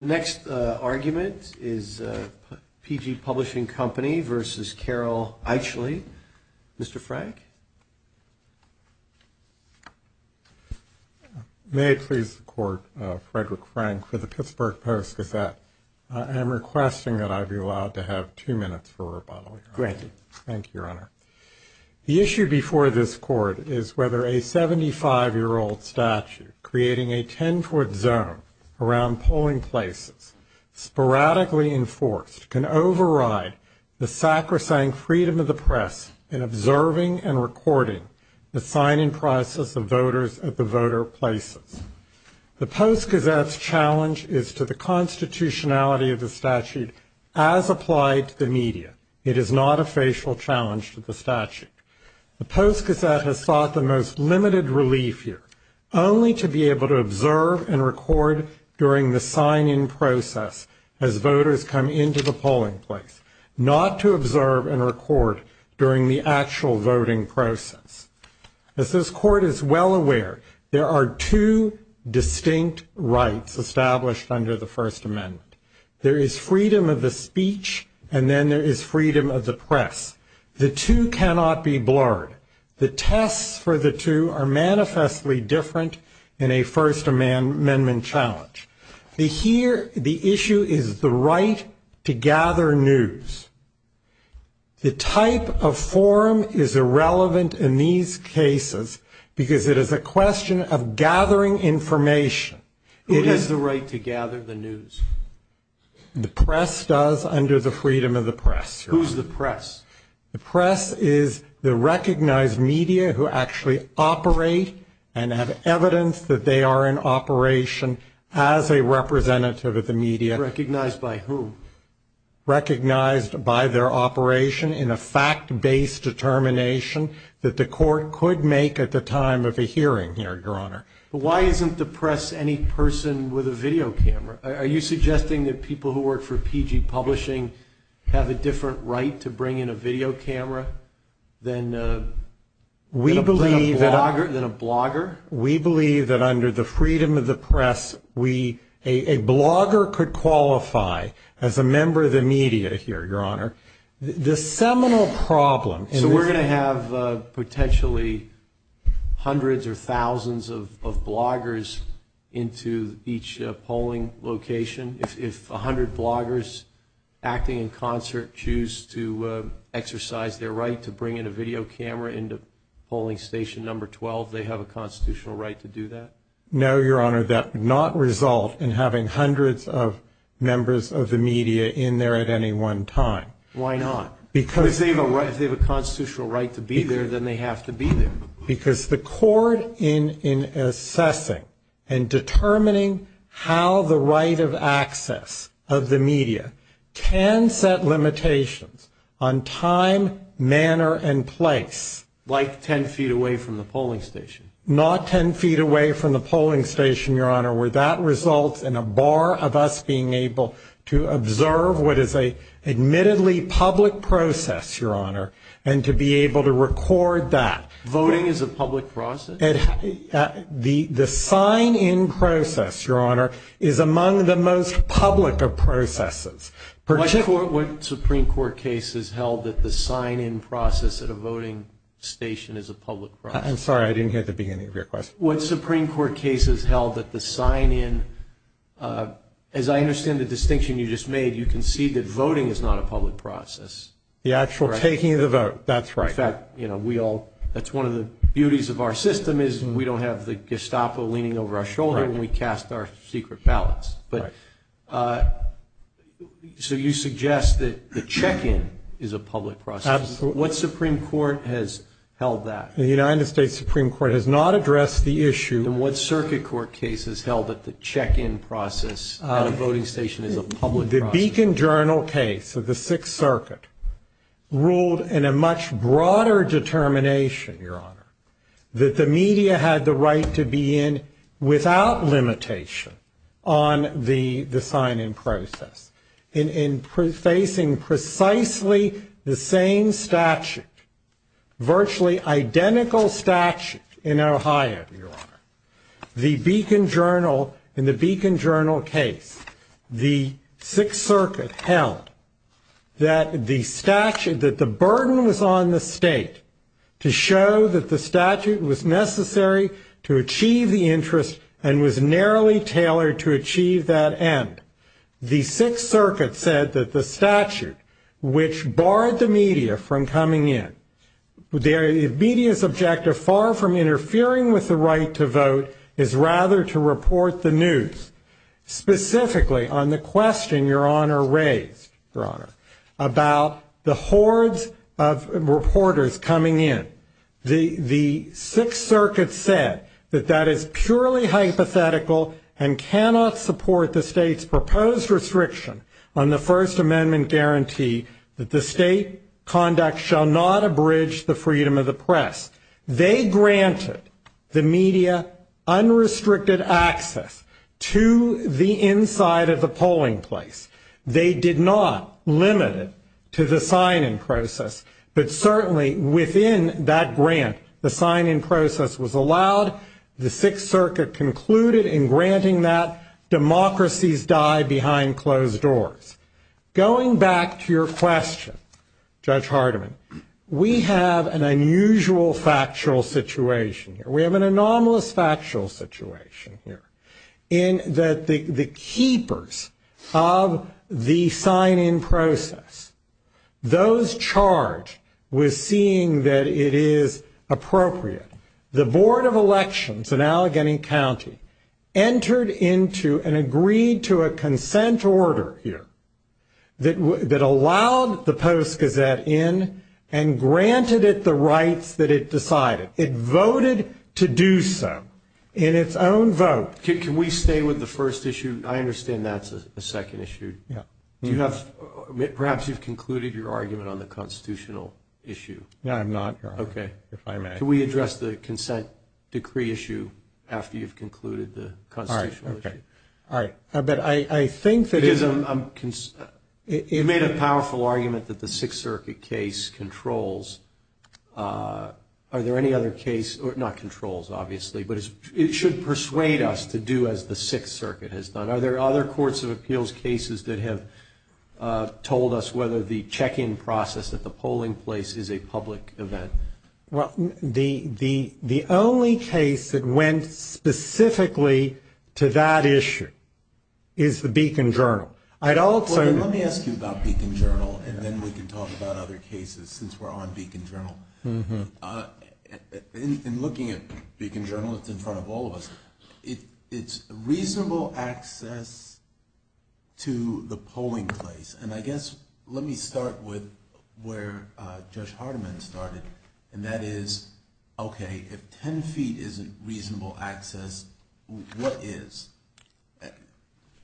The next argument is P.G. Publishing Company versus Carol Aicheleet. Mr. Frank? May it please the Court, Frederick Frank for the Pittsburgh Post-Gazette. I am requesting that I be allowed to have two minutes for rebuttal, Your Honor. Granted. Thank you, Your Honor. The issue before this Court is whether a 75-year-old statute creating a 10-foot zone around polling places, sporadically enforced, can override the sacrosanct freedom of the press in observing and recording the sign-in process of voters at the voter places. The Post-Gazette's challenge is to the constitutionality of the statute as applied to the media. It is not a facial challenge to the statute. The Post-Gazette has sought the most limited relief here, only to be able to observe and record during the sign-in process as voters come into the polling place, not to observe and record during the actual voting process. As this Court is well aware, there are two distinct rights established under the First Amendment. There is freedom of the speech and then there is freedom of the press. The two cannot be blurred. The tests for the two are manifestly different in a First Amendment challenge. The issue is the right to gather news. The type of forum is irrelevant in these cases because it is a question of gathering information. Who has the right to gather the news? The press does under the freedom of the press, Your Honor. Who's the press? The press is the recognized media who actually operate and have evidence that they are in operation as a representative of the media. Recognized by whom? Recognized by their operation in a fact-based determination that the Court could make at the time of a hearing here, Your Honor. But why isn't the press any person with a video camera? Are you suggesting that people who work for PG Publishing have a different right to bring in a video camera than a blogger? We believe that under the freedom of the press, a blogger could qualify as a member of the media here, Your Honor. So we're going to have potentially hundreds or thousands of bloggers into each polling location? If 100 bloggers acting in concert choose to exercise their right to bring in a video camera into polling station number 12, they have a constitutional right to do that? No, Your Honor, that would not result in having hundreds of members of the media in there at any one time. Why not? If they have a constitutional right to be there, then they have to be there. Because the Court in assessing and determining how the right of access of the media can set limitations on time, manner, and place. Like 10 feet away from the polling station? Not 10 feet away from the polling station, Your Honor, where that results in a bar of us being able to observe what is an admittedly public process, Your Honor, and to be able to record that. Voting is a public process? The sign-in process, Your Honor, is among the most public of processes. What Supreme Court case has held that the sign-in process at a voting station is a public process? I'm sorry, I didn't hear the beginning of your question. What Supreme Court case has held that the sign-in, as I understand the distinction you just made, you concede that voting is not a public process? The actual taking of the vote, that's right. In fact, you know, we all, that's one of the beauties of our system is we don't have the Gestapo leaning over our shoulder when we cast our secret ballots. Right. So you suggest that the check-in is a public process? Absolutely. What Supreme Court has held that? The United States Supreme Court has not addressed the issue. And what circuit court case has held that the check-in process at a voting station is a public process? The Beacon Journal case of the Sixth Circuit ruled in a much broader determination, Your Honor, that the media had the right to be in without limitation on the sign-in process. In facing precisely the same statute, virtually identical statute in Ohio, Your Honor, the Beacon Journal, in the Beacon Journal case, the Sixth Circuit held that the statute, that the burden was on the state to show that the statute was necessary to achieve the interest and was narrowly tailored to achieve that end. The Sixth Circuit said that the statute, which barred the media from coming in, the media's objective far from interfering with the right to vote is rather to report the news, specifically on the question Your Honor raised, Your Honor, about the hordes of reporters coming in. The Sixth Circuit said that that is purely hypothetical and cannot support the state's proposed restriction on the First Amendment guarantee that the state conduct shall not abridge the freedom of the press. They granted the media unrestricted access to the inside of the polling place. They did not limit it to the sign-in process, but certainly within that grant, the sign-in process was allowed. The Sixth Circuit concluded in granting that democracies die behind closed doors. Going back to your question, Judge Hardiman, we have an unusual factual situation here. We have an anomalous factual situation here in that the keepers of the sign-in process, those charged with seeing that it is appropriate, the Board of Elections in Allegheny County entered into and agreed to a consent order here that allowed the Post-Gazette in and granted it the rights that it decided. It voted to do so in its own vote. Can we stay with the first issue? I understand that's a second issue. Yeah. Perhaps you've concluded your argument on the constitutional issue. No, I'm not, Your Honor, if I may. Okay. Can we address the consent decree issue after you've concluded the constitutional issue? All right. All right. But I think that it is a – You made a powerful argument that the Sixth Circuit case controls. Are there any other case – not controls, obviously, but it should persuade us to do as the Sixth Circuit has done. Are there other courts of appeals cases that have told us whether the check-in process at the polling place is a public event? Well, the only case that went specifically to that issue is the Beacon Journal. I'd also – Let me ask you about Beacon Journal, and then we can talk about other cases since we're on Beacon Journal. In looking at Beacon Journal, it's in front of all of us, it's reasonable access to the polling place. And I guess let me start with where Judge Hardiman started, and that is, okay, if 10 feet isn't reasonable access, what is?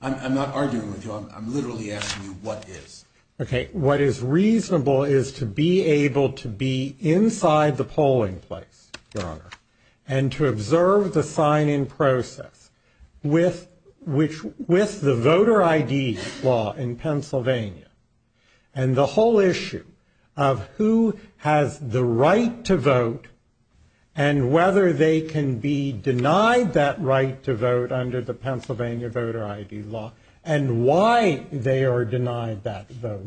I'm not arguing with you. I'm literally asking you what is. Okay. What is reasonable is to be able to be inside the polling place, Your Honor, and to observe the sign-in process with the voter ID law in Pennsylvania and the whole issue of who has the right to vote and whether they can be denied that right to vote under the Pennsylvania voter ID law and why they are denied that vote.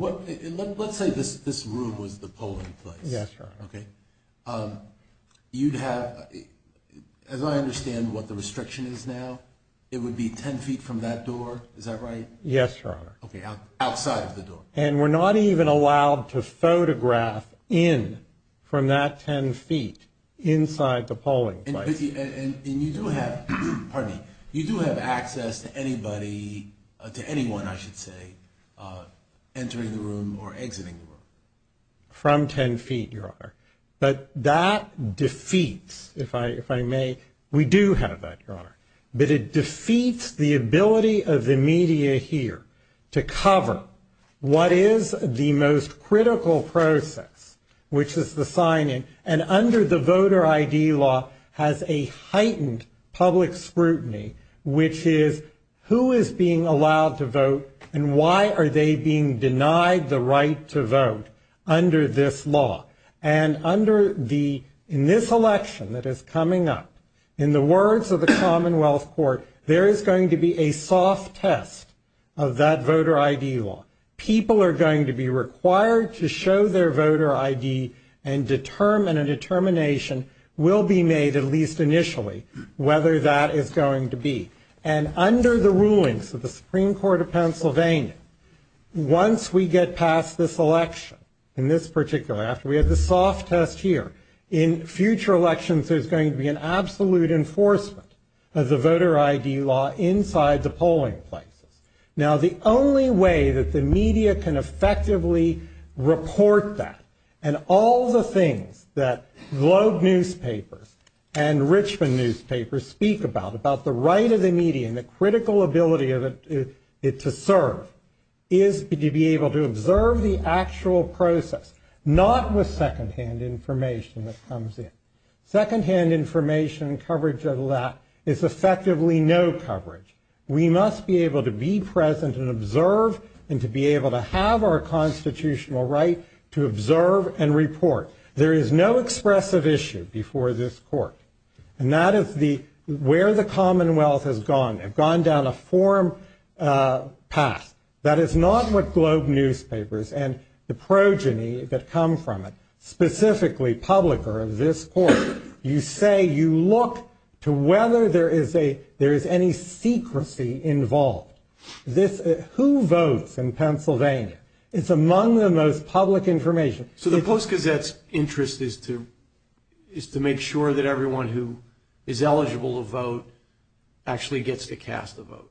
Let's say this room was the polling place. Yes, Your Honor. Okay. You'd have – as I understand what the restriction is now, it would be 10 feet from that door, is that right? Yes, Your Honor. Okay, outside of the door. And we're not even allowed to photograph in from that 10 feet inside the polling place. And you do have access to anybody, to anyone, I should say, entering the room or exiting the room. From 10 feet, Your Honor. But that defeats, if I may – we do have that, Your Honor. But it defeats the ability of the media here to cover what is the most critical process, which is the sign-in, and under the voter ID law has a heightened public scrutiny, which is who is being allowed to vote and why are they being denied the right to vote under this law. And under the – in this election that is coming up, in the words of the Commonwealth Court, there is going to be a soft test of that voter ID law. People are going to be required to show their voter ID and a determination will be made, at least initially, whether that is going to be. And under the rulings of the Supreme Court of Pennsylvania, once we get past this election, in this particular – after we have the soft test here, in future elections there's going to be an absolute enforcement of the voter ID law inside the polling places. Now, the only way that the media can effectively report that and all the things that Globe newspapers and Richmond newspapers speak about, about the right of the media and the critical ability of it to serve, is to be able to observe the actual process, not with second-hand information that comes in. Second-hand information and coverage of that is effectively no coverage. We must be able to be present and observe and to be able to have our constitutional right to observe and report. There is no expressive issue before this court. And that is the – where the Commonwealth has gone. They've gone down a forum path. That is not what Globe newspapers and the progeny that come from it, specifically publicer of this court, you say you look to whether there is any secrecy involved. Who votes in Pennsylvania? It's among the most public information. So the Post-Gazette's interest is to make sure that everyone who is eligible to vote actually gets to cast a vote.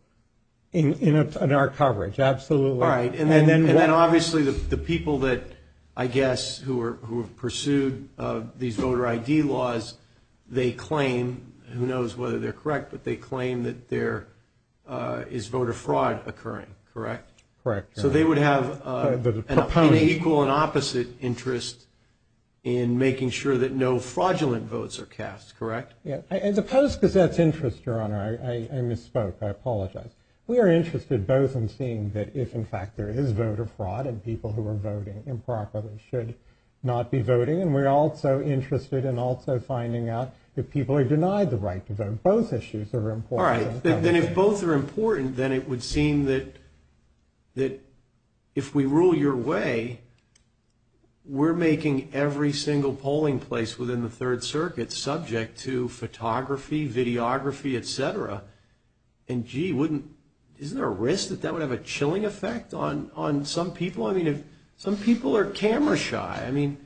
In our coverage, absolutely. All right. And then obviously the people that I guess who have pursued these voter ID laws, they claim, who knows whether they're correct, but they claim that there is voter fraud occurring, correct? Correct. So they would have an equal and opposite interest in making sure that no fraudulent votes are cast, correct? The Post-Gazette's interest, Your Honor, I misspoke. I apologize. We are interested both in seeing that if, in fact, there is voter fraud and people who are voting improperly should not be voting. And we're also interested in also finding out if people are denied the right to vote. Both issues are important. All right. Then if both are important, then it would seem that if we rule your way, we're making every single polling place within the Third Circuit subject to photography, videography, et cetera. And, gee, isn't there a risk that that would have a chilling effect on some people? I mean, some people are camera shy. I mean,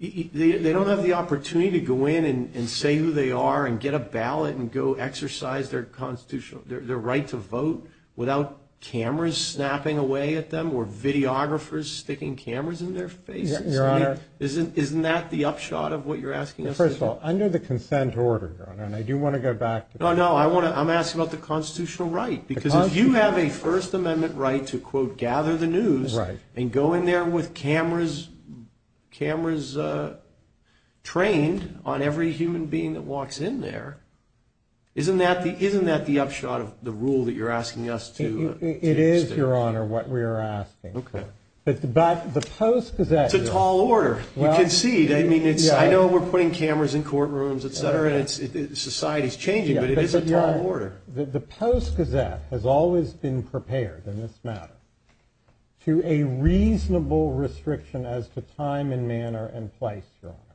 they don't have the opportunity to go in and say who they are and get a ballot and go exercise their constitutional right to vote without cameras snapping away at them or videographers sticking cameras in their faces. Your Honor. Isn't that the upshot of what you're asking us to do? First of all, under the consent order, Your Honor, and I do want to go back to that. No, no. I'm asking about the constitutional right, because if you have a First Amendment right to, quote, gather the news and go in there with cameras trained on every human being that walks in there, isn't that the upshot of the rule that you're asking us to stick? It is, Your Honor, what we are asking. Okay. But the Post-Gazette. It's a tall order. You can see. I mean, I know we're putting cameras in courtrooms, et cetera, and society is changing, but it is a tall order. The Post-Gazette has always been prepared in this matter to a reasonable restriction as to time and manner and place, Your Honor.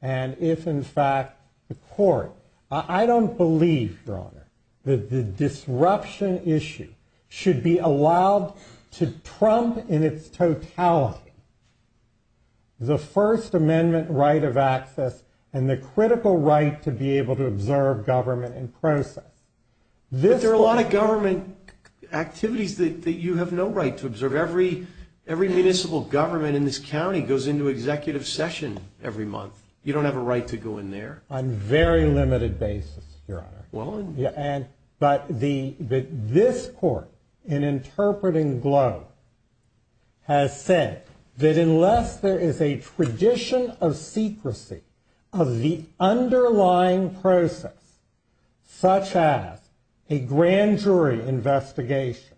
And if in fact the court, I don't believe, Your Honor, that the disruption issue should be allowed to trump in its totality the First Amendment right of access and the critical right to be able to observe government in process. But there are a lot of government activities that you have no right to observe. Every municipal government in this county goes into executive session every month. You don't have a right to go in there. On a very limited basis, Your Honor. But this court in interpreting Glow has said that unless there is a tradition of secrecy of the underlying process, such as a grand jury investigation,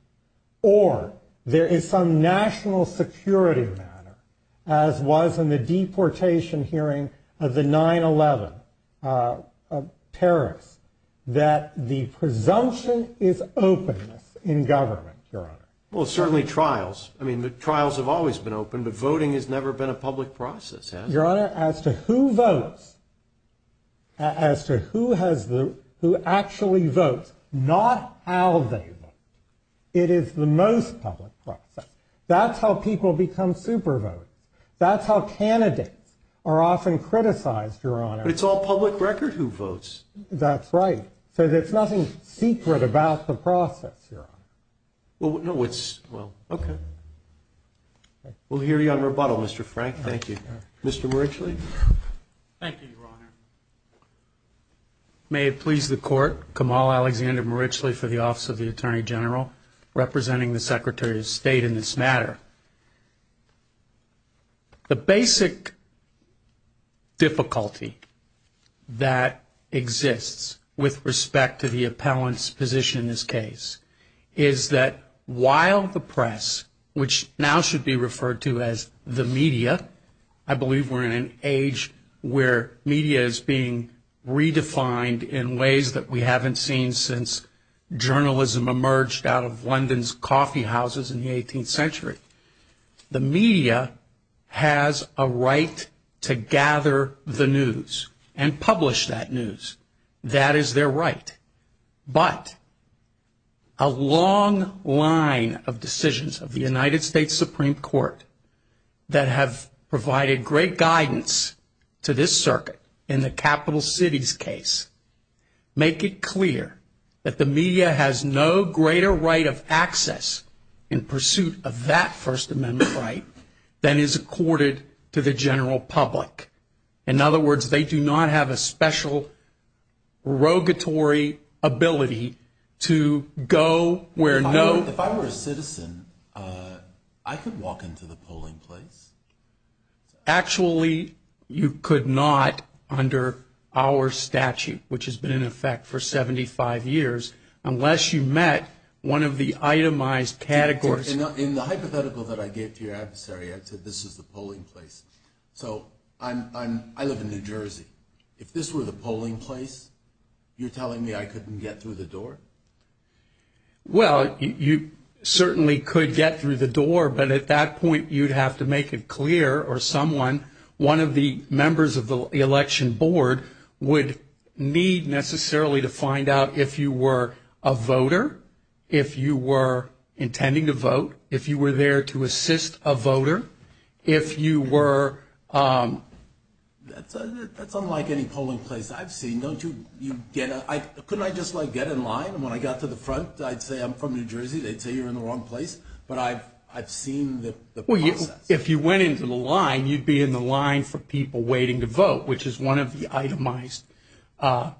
or there is some national security matter, as was in the deportation hearing of the 9-11 terrorists, that the presumption is openness in government, Your Honor. Well, certainly trials. I mean, the trials have always been open, but voting has never been a public process, has it? Your Honor, as to who votes, as to who actually votes, not how they vote, it is the most public process. That's how people become super votes. That's how candidates are often criticized, Your Honor. But it's all public record who votes. That's right. So there's nothing secret about the process, Your Honor. Well, no, it's, well, okay. We'll hear you on rebuttal, Mr. Frank. Thank you. Mr. Marichle. Thank you, Your Honor. May it please the Court, Kamal Alexander Marichle for the Office of the Attorney General, representing the Secretary of State in this matter. The basic difficulty that exists with respect to the appellant's position in this case is that while the press, which now should be referred to as the media, I believe we're in an age where media is being redefined in ways that we haven't seen since journalism emerged out of London's coffeehouses in the 18th century. The media has a right to gather the news and publish that news. That is their right. But a long line of decisions of the United States Supreme Court that have provided great guidance to this circuit in the capital city's case make it clear that the media has no greater right of access in pursuit of that First Amendment right than is accorded to the general public. In other words, they do not have a special rogatory ability to go where no. If I were a citizen, I could walk into the polling place. Actually, you could not under our statute, which has been in effect for 75 years, unless you met one of the itemized categories. In the hypothetical that I gave to your adversary, I said this is the polling place. So I live in New Jersey. If this were the polling place, you're telling me I couldn't get through the door? Well, you certainly could get through the door, but at that point, you'd have to make it clear or someone, one of the members of the election board would need necessarily to find out if you were a voter, if you were intending to vote, if you were there to assist a voter, if you were. That's unlike any polling place I've seen. Couldn't I just get in line? When I got to the front, I'd say I'm from New Jersey. They'd say you're in the wrong place, but I've seen the process. Well, if you went into the line, you'd be in the line for people waiting to vote, which is one of the itemized presences.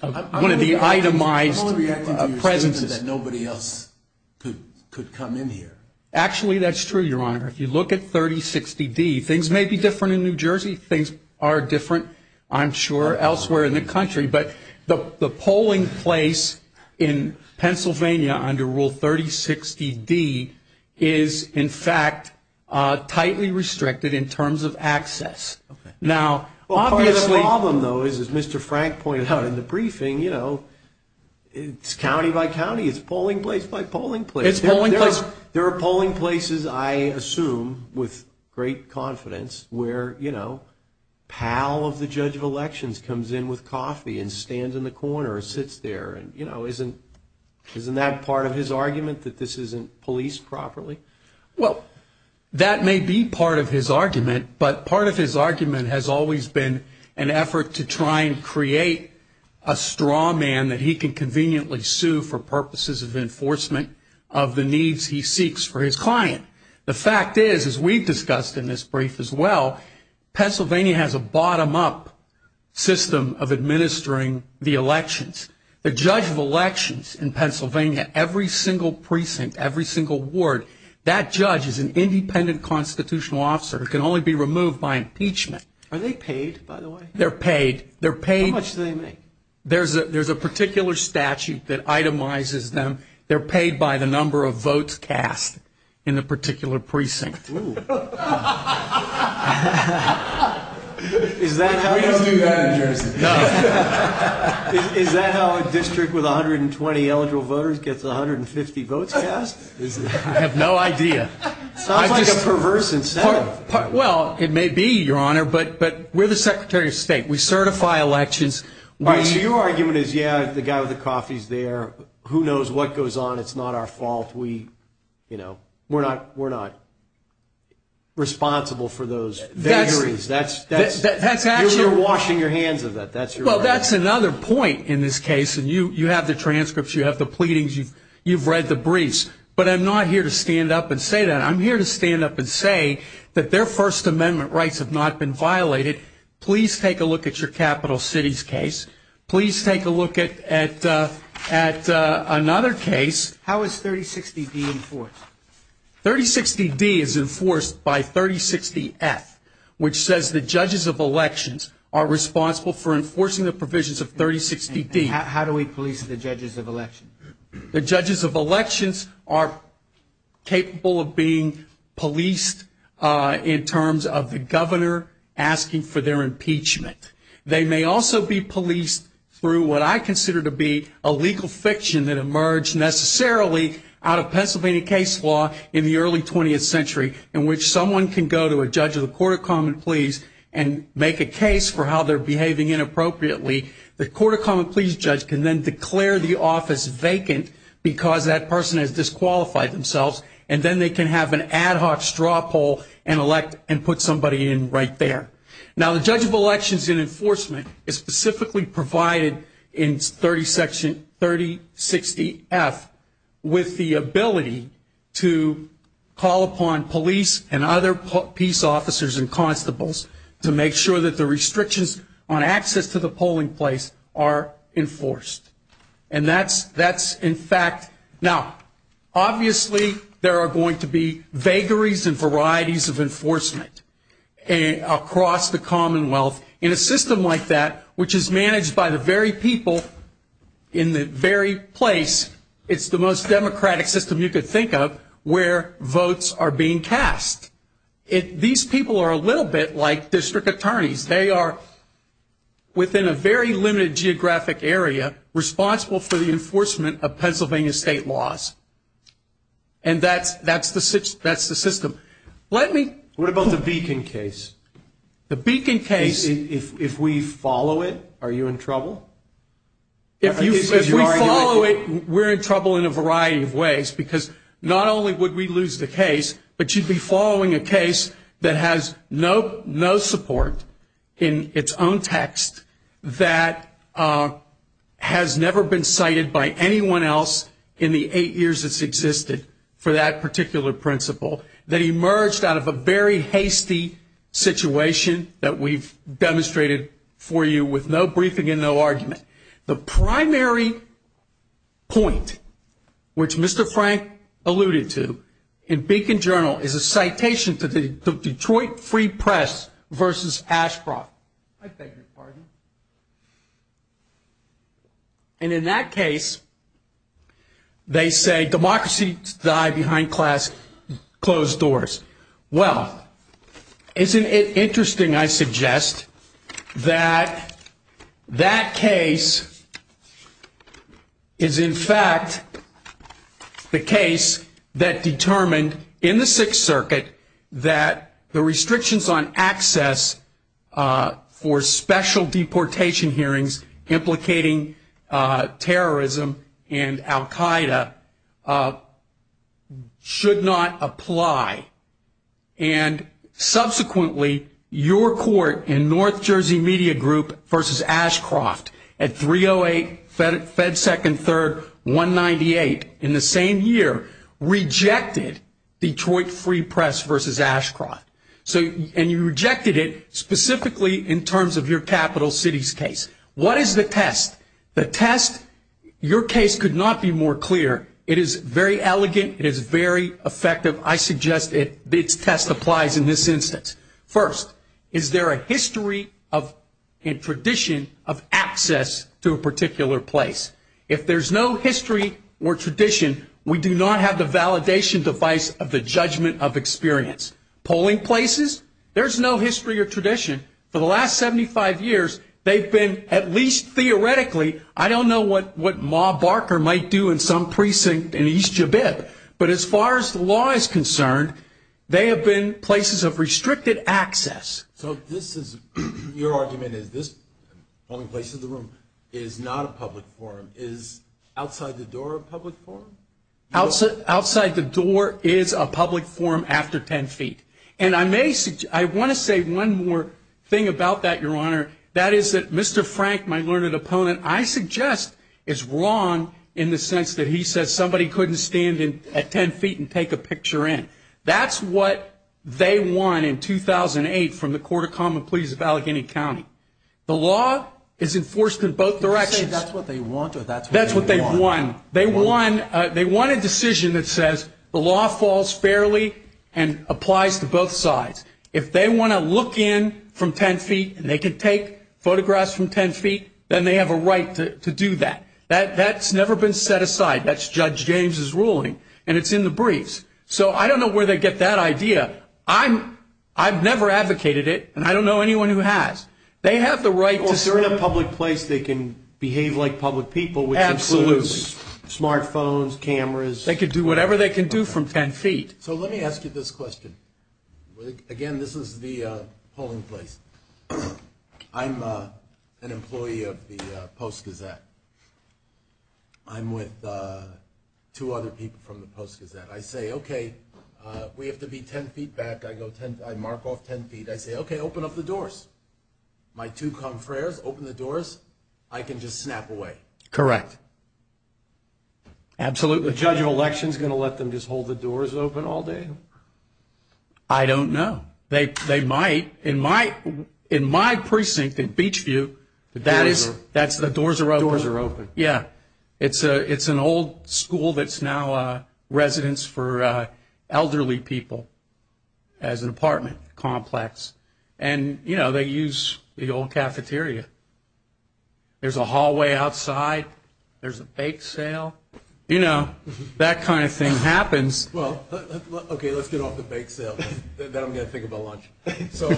I'm only reacting to your statement that nobody else could come in here. Actually, that's true, Your Honor. If you look at 3060-D, things may be different in New Jersey. Things are different, I'm sure, elsewhere in the country. But the polling place in Pennsylvania under Rule 3060-D is, in fact, tightly restricted in terms of access. Now, obviously the problem, though, is, as Mr. Frank pointed out in the briefing, you know, it's county by county. It's polling place by polling place. It's polling place. Because there are polling places, I assume, with great confidence, where, you know, a pal of the judge of elections comes in with coffee and stands in the corner or sits there. And, you know, isn't that part of his argument, that this isn't policed properly? Well, that may be part of his argument, but part of his argument has always been an effort to try and create a straw man that he can conveniently sue for purposes of enforcement of the needs he seeks for his client. The fact is, as we've discussed in this brief as well, Pennsylvania has a bottom-up system of administering the elections. The judge of elections in Pennsylvania, every single precinct, every single ward, that judge is an independent constitutional officer who can only be removed by impeachment. Are they paid, by the way? They're paid. How much do they make? There's a particular statute that itemizes them. They're paid by the number of votes cast in the particular precinct. Is that how a district with 120 eligible voters gets 150 votes cast? I have no idea. Sounds like a perverse incentive. Well, it may be, Your Honor, but we're the Secretary of State. We certify elections. All right, so your argument is, yeah, the guy with the coffee is there. Who knows what goes on? It's not our fault. We're not responsible for those vagaries. You're washing your hands of that. Well, that's another point in this case. And you have the transcripts. You have the pleadings. You've read the briefs. But I'm not here to stand up and say that. I'm here to stand up and say that their First Amendment rights have not been violated. Please take a look at your Capital Cities case. Please take a look at another case. How is 3060-D enforced? 3060-D is enforced by 3060-F, which says the judges of elections are responsible for enforcing the provisions of 3060-D. How do we police the judges of elections? The judges of elections are capable of being policed in terms of the governor asking for their impeachment. They may also be policed through what I consider to be a legal fiction that emerged necessarily out of Pennsylvania case law in the early 20th century in which someone can go to a judge of the Court of Common Pleas and make a case for how they're behaving inappropriately. The Court of Common Pleas judge can then declare the office vacant because that person has disqualified themselves, and then they can have an ad hoc straw poll and put somebody in right there. Now, the judge of elections in enforcement is specifically provided in 3060-F with the ability to call upon police and other peace officers and constables to make sure that the restrictions on access to the polling place are enforced. Now, obviously, there are going to be vagaries and varieties of enforcement across the Commonwealth. In a system like that, which is managed by the very people in the very place, it's the most democratic system you could think of, where votes are being cast. These people are a little bit like district attorneys. They are, within a very limited geographic area, responsible for the enforcement of Pennsylvania state laws. And that's the system. Let me... What about the Beacon case? The Beacon case... If we follow it, are you in trouble? If we follow it, we're in trouble in a variety of ways because not only would we lose the case, but you'd be following a case that has no support in its own text, that has never been cited by anyone else in the eight years it's existed for that particular principle, that emerged out of a very hasty situation that we've demonstrated for you with no briefing and no argument. The primary point, which Mr. Frank alluded to, in Beacon Journal, is a citation to the Detroit Free Press versus Ashcroft. I beg your pardon. And in that case, they say democracy died behind closed doors. Well, isn't it interesting, I suggest, that that case is, in fact, the case that determined, in the Sixth Circuit, that the restrictions on access for special deportation hearings implicating terrorism and al Qaeda should not apply. And subsequently, your court in North Jersey Media Group versus Ashcroft at 308 Fed 2nd 3rd 198, in the same year, rejected Detroit Free Press versus Ashcroft. And you rejected it specifically in terms of your capital cities case. What is the test? The test, your case could not be more clear. It is very elegant. It is very effective. I suggest its test applies in this instance. First, is there a history and tradition of access to a particular place? If there's no history or tradition, we do not have the validation device of the judgment of experience. Polling places, there's no history or tradition. For the last 75 years, they've been, at least theoretically, I don't know what Ma Barker might do in some precinct in East Jabib, but as far as the law is concerned, they have been places of restricted access. So this is, your argument is this polling place in the room is not a public forum. Is outside the door a public forum? Outside the door is a public forum after 10 feet. And I want to say one more thing about that, Your Honor. That is that Mr. Frank, my learned opponent, I suggest is wrong in the sense that he says somebody couldn't stand at 10 feet and take a picture in. That's what they won in 2008 from the Court of Common Pleas of Allegheny County. The law is enforced in both directions. Did you say that's what they won or that's what they won? That's what they won. They won a decision that says the law falls fairly and applies to both sides. If they want to look in from 10 feet and they can take photographs from 10 feet, then they have a right to do that. That's never been set aside. That's Judge James's ruling, and it's in the briefs. So I don't know where they get that idea. I've never advocated it, and I don't know anyone who has. They have the right to serve. Well, if they're in a public place, they can behave like public people, which includes smart phones, cameras. They can do whatever they can do from 10 feet. So let me ask you this question. Again, this is the polling place. I'm an employee of the Post Gazette. I'm with two other people from the Post Gazette. I say, okay, we have to be 10 feet back. I mark off 10 feet. I say, okay, open up the doors. My two confreres open the doors. I can just snap away. Correct. Absolutely. The judge of election is going to let them just hold the doors open all day? I don't know. They might. In my precinct in Beachview, the doors are open. Yeah. It's an old school that's now a residence for elderly people as an apartment complex. And, you know, they use the old cafeteria. There's a hallway outside. There's a bake sale. You know, that kind of thing happens. Well, okay, let's get off the bake sale. Then I'm going to think about lunch. So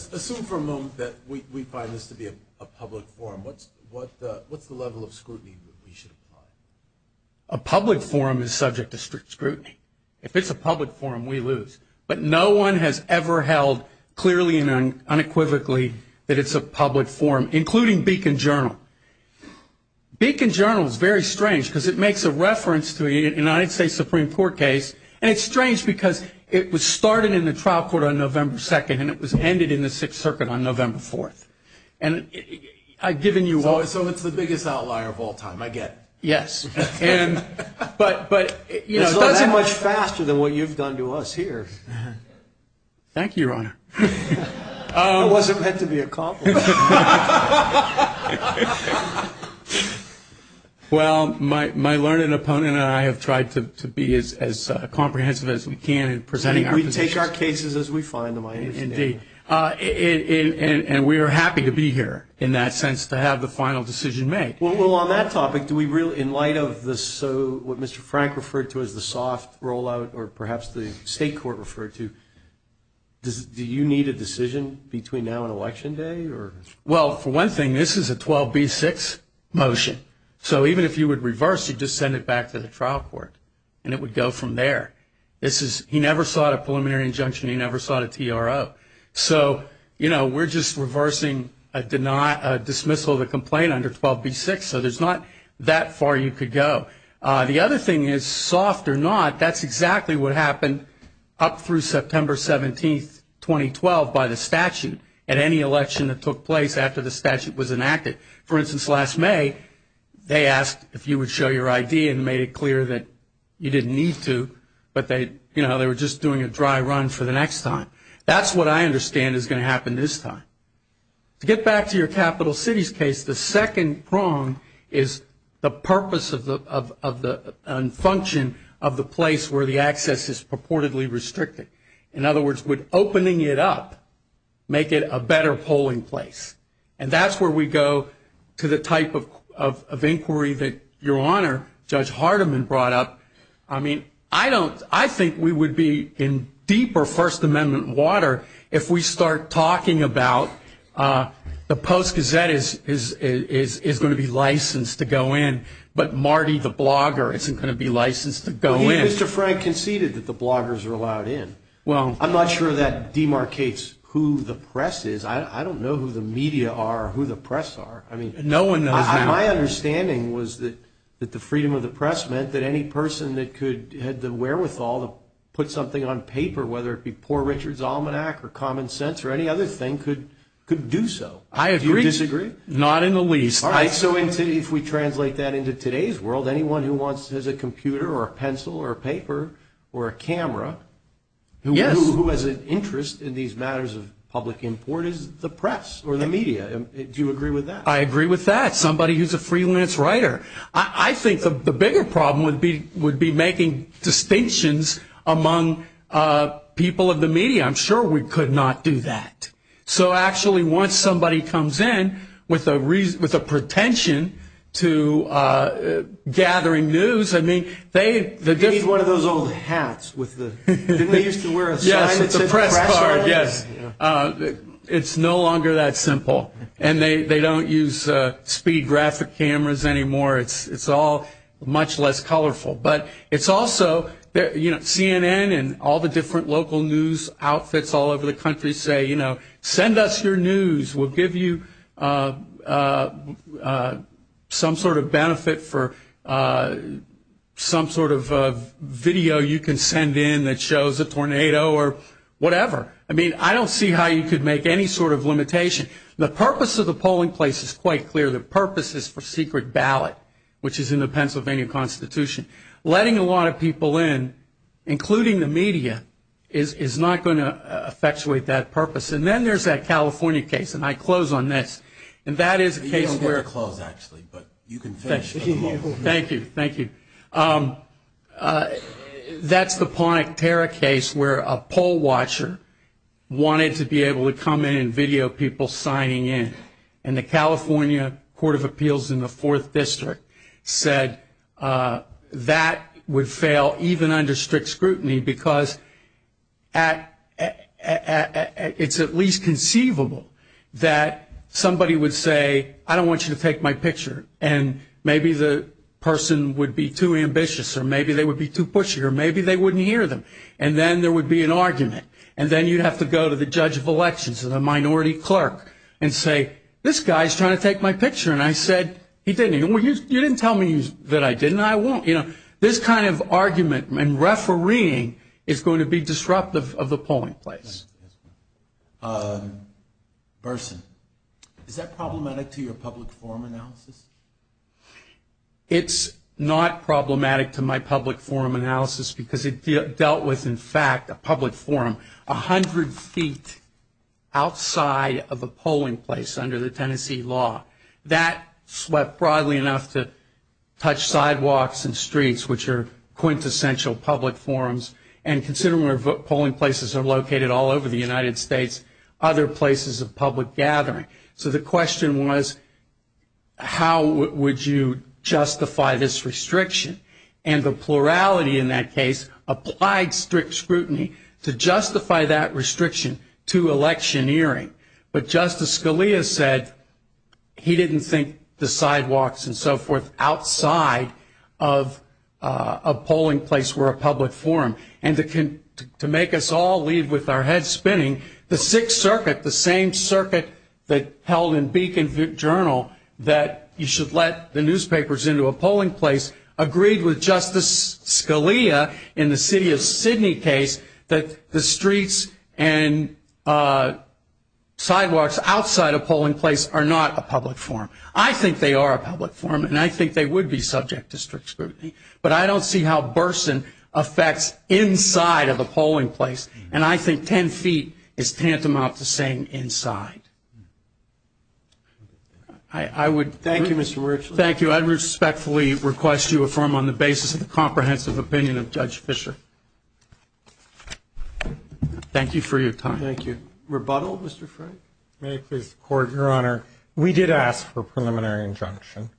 assume for a moment that we find this to be a public forum. What's the level of scrutiny that we should apply? A public forum is subject to strict scrutiny. If it's a public forum, we lose. But no one has ever held clearly and unequivocally that it's a public forum, including Beacon Journal. Beacon Journal is very strange because it makes a reference to a United States Supreme Court case. And it's strange because it was started in the trial court on November 2nd, and it was ended in the Sixth Circuit on November 4th. So it's the biggest outlier of all time, I get it. Yes. But it does it much faster than what you've done to us here. Thank you, Your Honor. It wasn't meant to be a compliment. Well, my learned opponent and I have tried to be as comprehensive as we can in presenting our positions. We take our cases as we find them, I understand. Indeed. And we are happy to be here in that sense to have the final decision made. Well, on that topic, in light of what Mr. Frank referred to as the soft rollout or perhaps the state court referred to, do you need a decision between now and Election Day? Well, for one thing, this is a 12B6 motion. So even if you would reverse, you'd just send it back to the trial court, and it would go from there. He never sought a preliminary injunction. He never sought a TRO. So, you know, we're just reversing a dismissal of the complaint under 12B6, so there's not that far you could go. The other thing is, soft or not, that's exactly what happened up through September 17th, 2012, by the statute at any election that took place after the statute was enacted. For instance, last May, they asked if you would show your ID and made it clear that you didn't need to, but they were just doing a dry run for the next time. That's what I understand is going to happen this time. To get back to your capital cities case, the second prong is the purpose and function of the place where the access is purportedly restricted. In other words, would opening it up make it a better polling place? And that's where we go to the type of inquiry that Your Honor, Judge Hardiman, brought up. I mean, I think we would be in deeper First Amendment water if we start talking about the Post-Gazette is going to be licensed to go in, but Marty the blogger isn't going to be licensed to go in. He and Mr. Frank conceded that the bloggers are allowed in. I'm not sure that demarcates who the press is. I don't know who the media are or who the press are. My understanding was that the freedom of the press meant that any person that had the wherewithal to put something on paper, whether it be Poor Richard's Almanac or Common Sense or any other thing, could do so. I agree. Do you disagree? Not in the least. All right. So if we translate that into today's world, anyone who has a computer or a pencil or a paper or a camera, who has an interest in these matters of public import is the press or the media. Do you agree with that? I agree with that. Somebody who's a freelance writer. I think the bigger problem would be making distinctions among people of the media. I'm sure we could not do that. So actually, once somebody comes in with a pretension to gathering news, I mean, they... It's like one of those old hats with the... Didn't they used to wear a sign that said press card? Yes, it's a press card, yes. It's no longer that simple. And they don't use speed graphic cameras anymore. It's all much less colorful. But it's also, you know, CNN and all the different local news outfits all over the country say, you know, send in that shows a tornado or whatever. I mean, I don't see how you could make any sort of limitation. The purpose of the polling place is quite clear. The purpose is for secret ballot, which is in the Pennsylvania Constitution. Letting a lot of people in, including the media, is not going to effectuate that purpose. And then there's that California case, and I close on this. And that is a case where... You don't have to close, actually, but you can finish for the moment. Thank you, thank you. That's the Pontic Terra case where a poll watcher wanted to be able to come in and video people signing in. And the California Court of Appeals in the 4th District said that would fail even under strict scrutiny because it's at least conceivable that somebody would say, I don't want you to take my picture. And maybe the person would be too ambitious, or maybe they would be too pushy, or maybe they wouldn't hear them. And then there would be an argument. And then you'd have to go to the judge of elections or the minority clerk and say, this guy's trying to take my picture, and I said he didn't. You didn't tell me that I didn't, and I won't. This kind of argument and refereeing is going to be disruptive of the polling place. Burson, is that problematic to your public forum analysis? It's not problematic to my public forum analysis because it dealt with, in fact, a public forum 100 feet outside of a polling place under the Tennessee law. That swept broadly enough to touch sidewalks and streets, which are quintessential public forums. And considering where polling places are located all over the United States, other places of public gathering. So the question was, how would you justify this restriction? And the plurality in that case applied strict scrutiny to justify that restriction to electioneering. But Justice Scalia said he didn't think the sidewalks and so forth outside of a polling place were a public forum. And to make us all leave with our heads spinning, the Sixth Circuit, the same circuit that held in Beacon Journal that you should let the newspapers into a polling place, agreed with Justice Scalia in the city of Sydney case that the streets and sidewalks outside a polling place are not a public forum. I think they are a public forum, and I think they would be subject to strict scrutiny. But I don't see how Burson affects inside of a polling place. And I think 10 feet is tantamount to saying inside. Thank you, Mr. Rich. Thank you. I respectfully request you affirm on the basis of the comprehensive opinion of Judge Fischer. Thank you for your time. Thank you. Rebuttal, Mr. Frank? May I please report, Your Honor? We did ask for a preliminary injunction.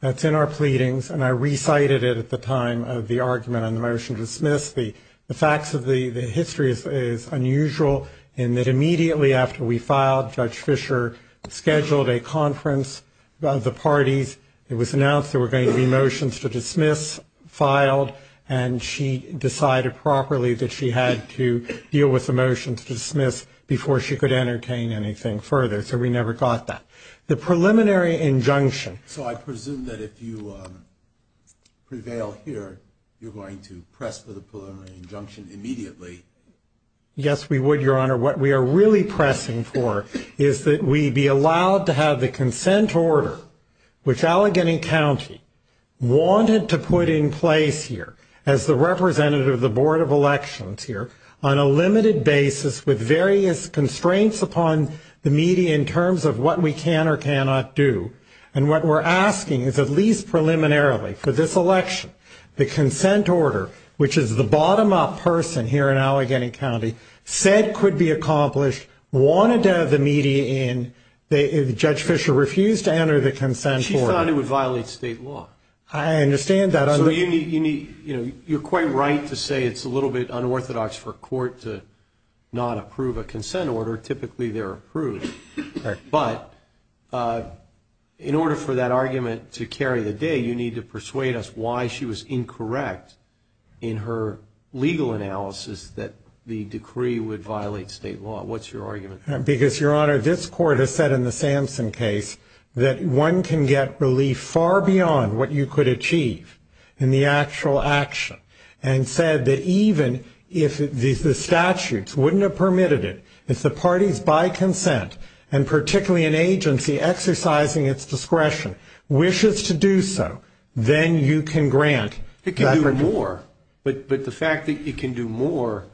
That's in our pleadings, and I recited it at the time of the argument on the motion to dismiss. The facts of the history is unusual in that immediately after we filed, Judge Fischer scheduled a conference of the parties. It was announced there were going to be motions to dismiss filed, and she decided properly that she had to deal with the motion to dismiss before she could entertain anything further. So we never got that. The preliminary injunction. So I presume that if you prevail here, you're going to press for the preliminary injunction immediately. Yes, we would, Your Honor. What we are really pressing for is that we be allowed to have the consent order, which Allegheny County wanted to put in place here as the representative of the Board of Elections here, on a limited basis with various constraints upon the media in terms of what we can or cannot do. And what we're asking is at least preliminarily for this election, the consent order, which is the bottom-up person here in Allegheny County, said could be accomplished, wanted to have the media in. Judge Fischer refused to enter the consent order. She found it would violate state law. I understand that. You're quite right to say it's a little bit unorthodox for a court to not approve a consent order. Typically they're approved. But in order for that argument to carry the day, you need to persuade us why she was incorrect in her legal analysis that the decree would violate state law. What's your argument? Because, Your Honor, this court has said in the Samson case that one can get relief far beyond what you could achieve in the actual action, and said that even if the statutes wouldn't have permitted it, if the parties by consent, and particularly an agency exercising its discretion, wishes to do so, then you can grant. It can do more. But the fact that it can do more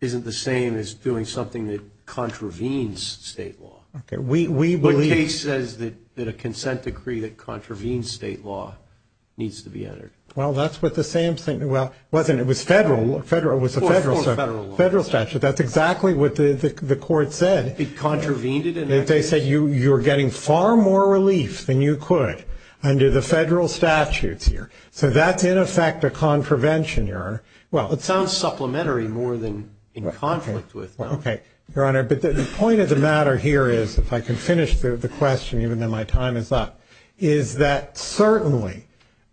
isn't the same as doing something that contravenes state law. Okay. What case says that a consent decree that contravenes state law needs to be entered? Well, that's what the Samson – well, it wasn't. It was federal. Of course, federal. Federal statute. That's exactly what the court said. It contravened it. They said you were getting far more relief than you could under the federal statutes here. So that's, in effect, a contravention, Your Honor. Well, it sounds supplementary more than in conflict with. Okay, Your Honor. But the point of the matter here is, if I can finish the question, even though my time is up, is that certainly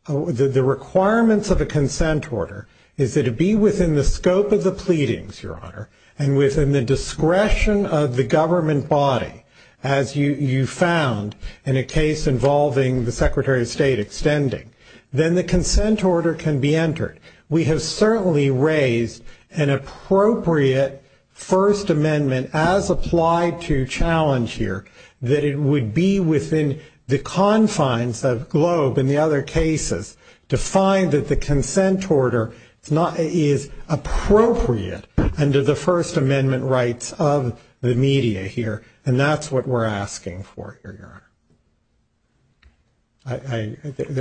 the requirements of a consent order is that it be within the scope of the pleadings, Your Honor, and within the discretion of the government body, as you found in a case involving the Secretary of State extending, then the consent order can be entered. We have certainly raised an appropriate First Amendment, as applied to challenge here, that it would be within the confines of GLOBE and the other cases to find that the consent order is appropriate under the First Amendment rights of the media here, and that's what we're asking for here, Your Honor.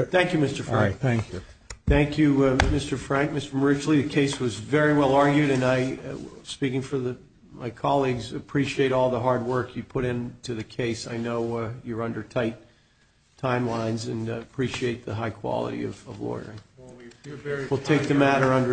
Thank you, Mr. Frank. All right, thank you. Thank you, Mr. Frank. Mr. Marucci, the case was very well argued, and I, speaking for my colleagues, appreciate all the hard work you put into the case. I know you're under tight timelines and appreciate the high quality of lawyering. We'll take the matter under advisement.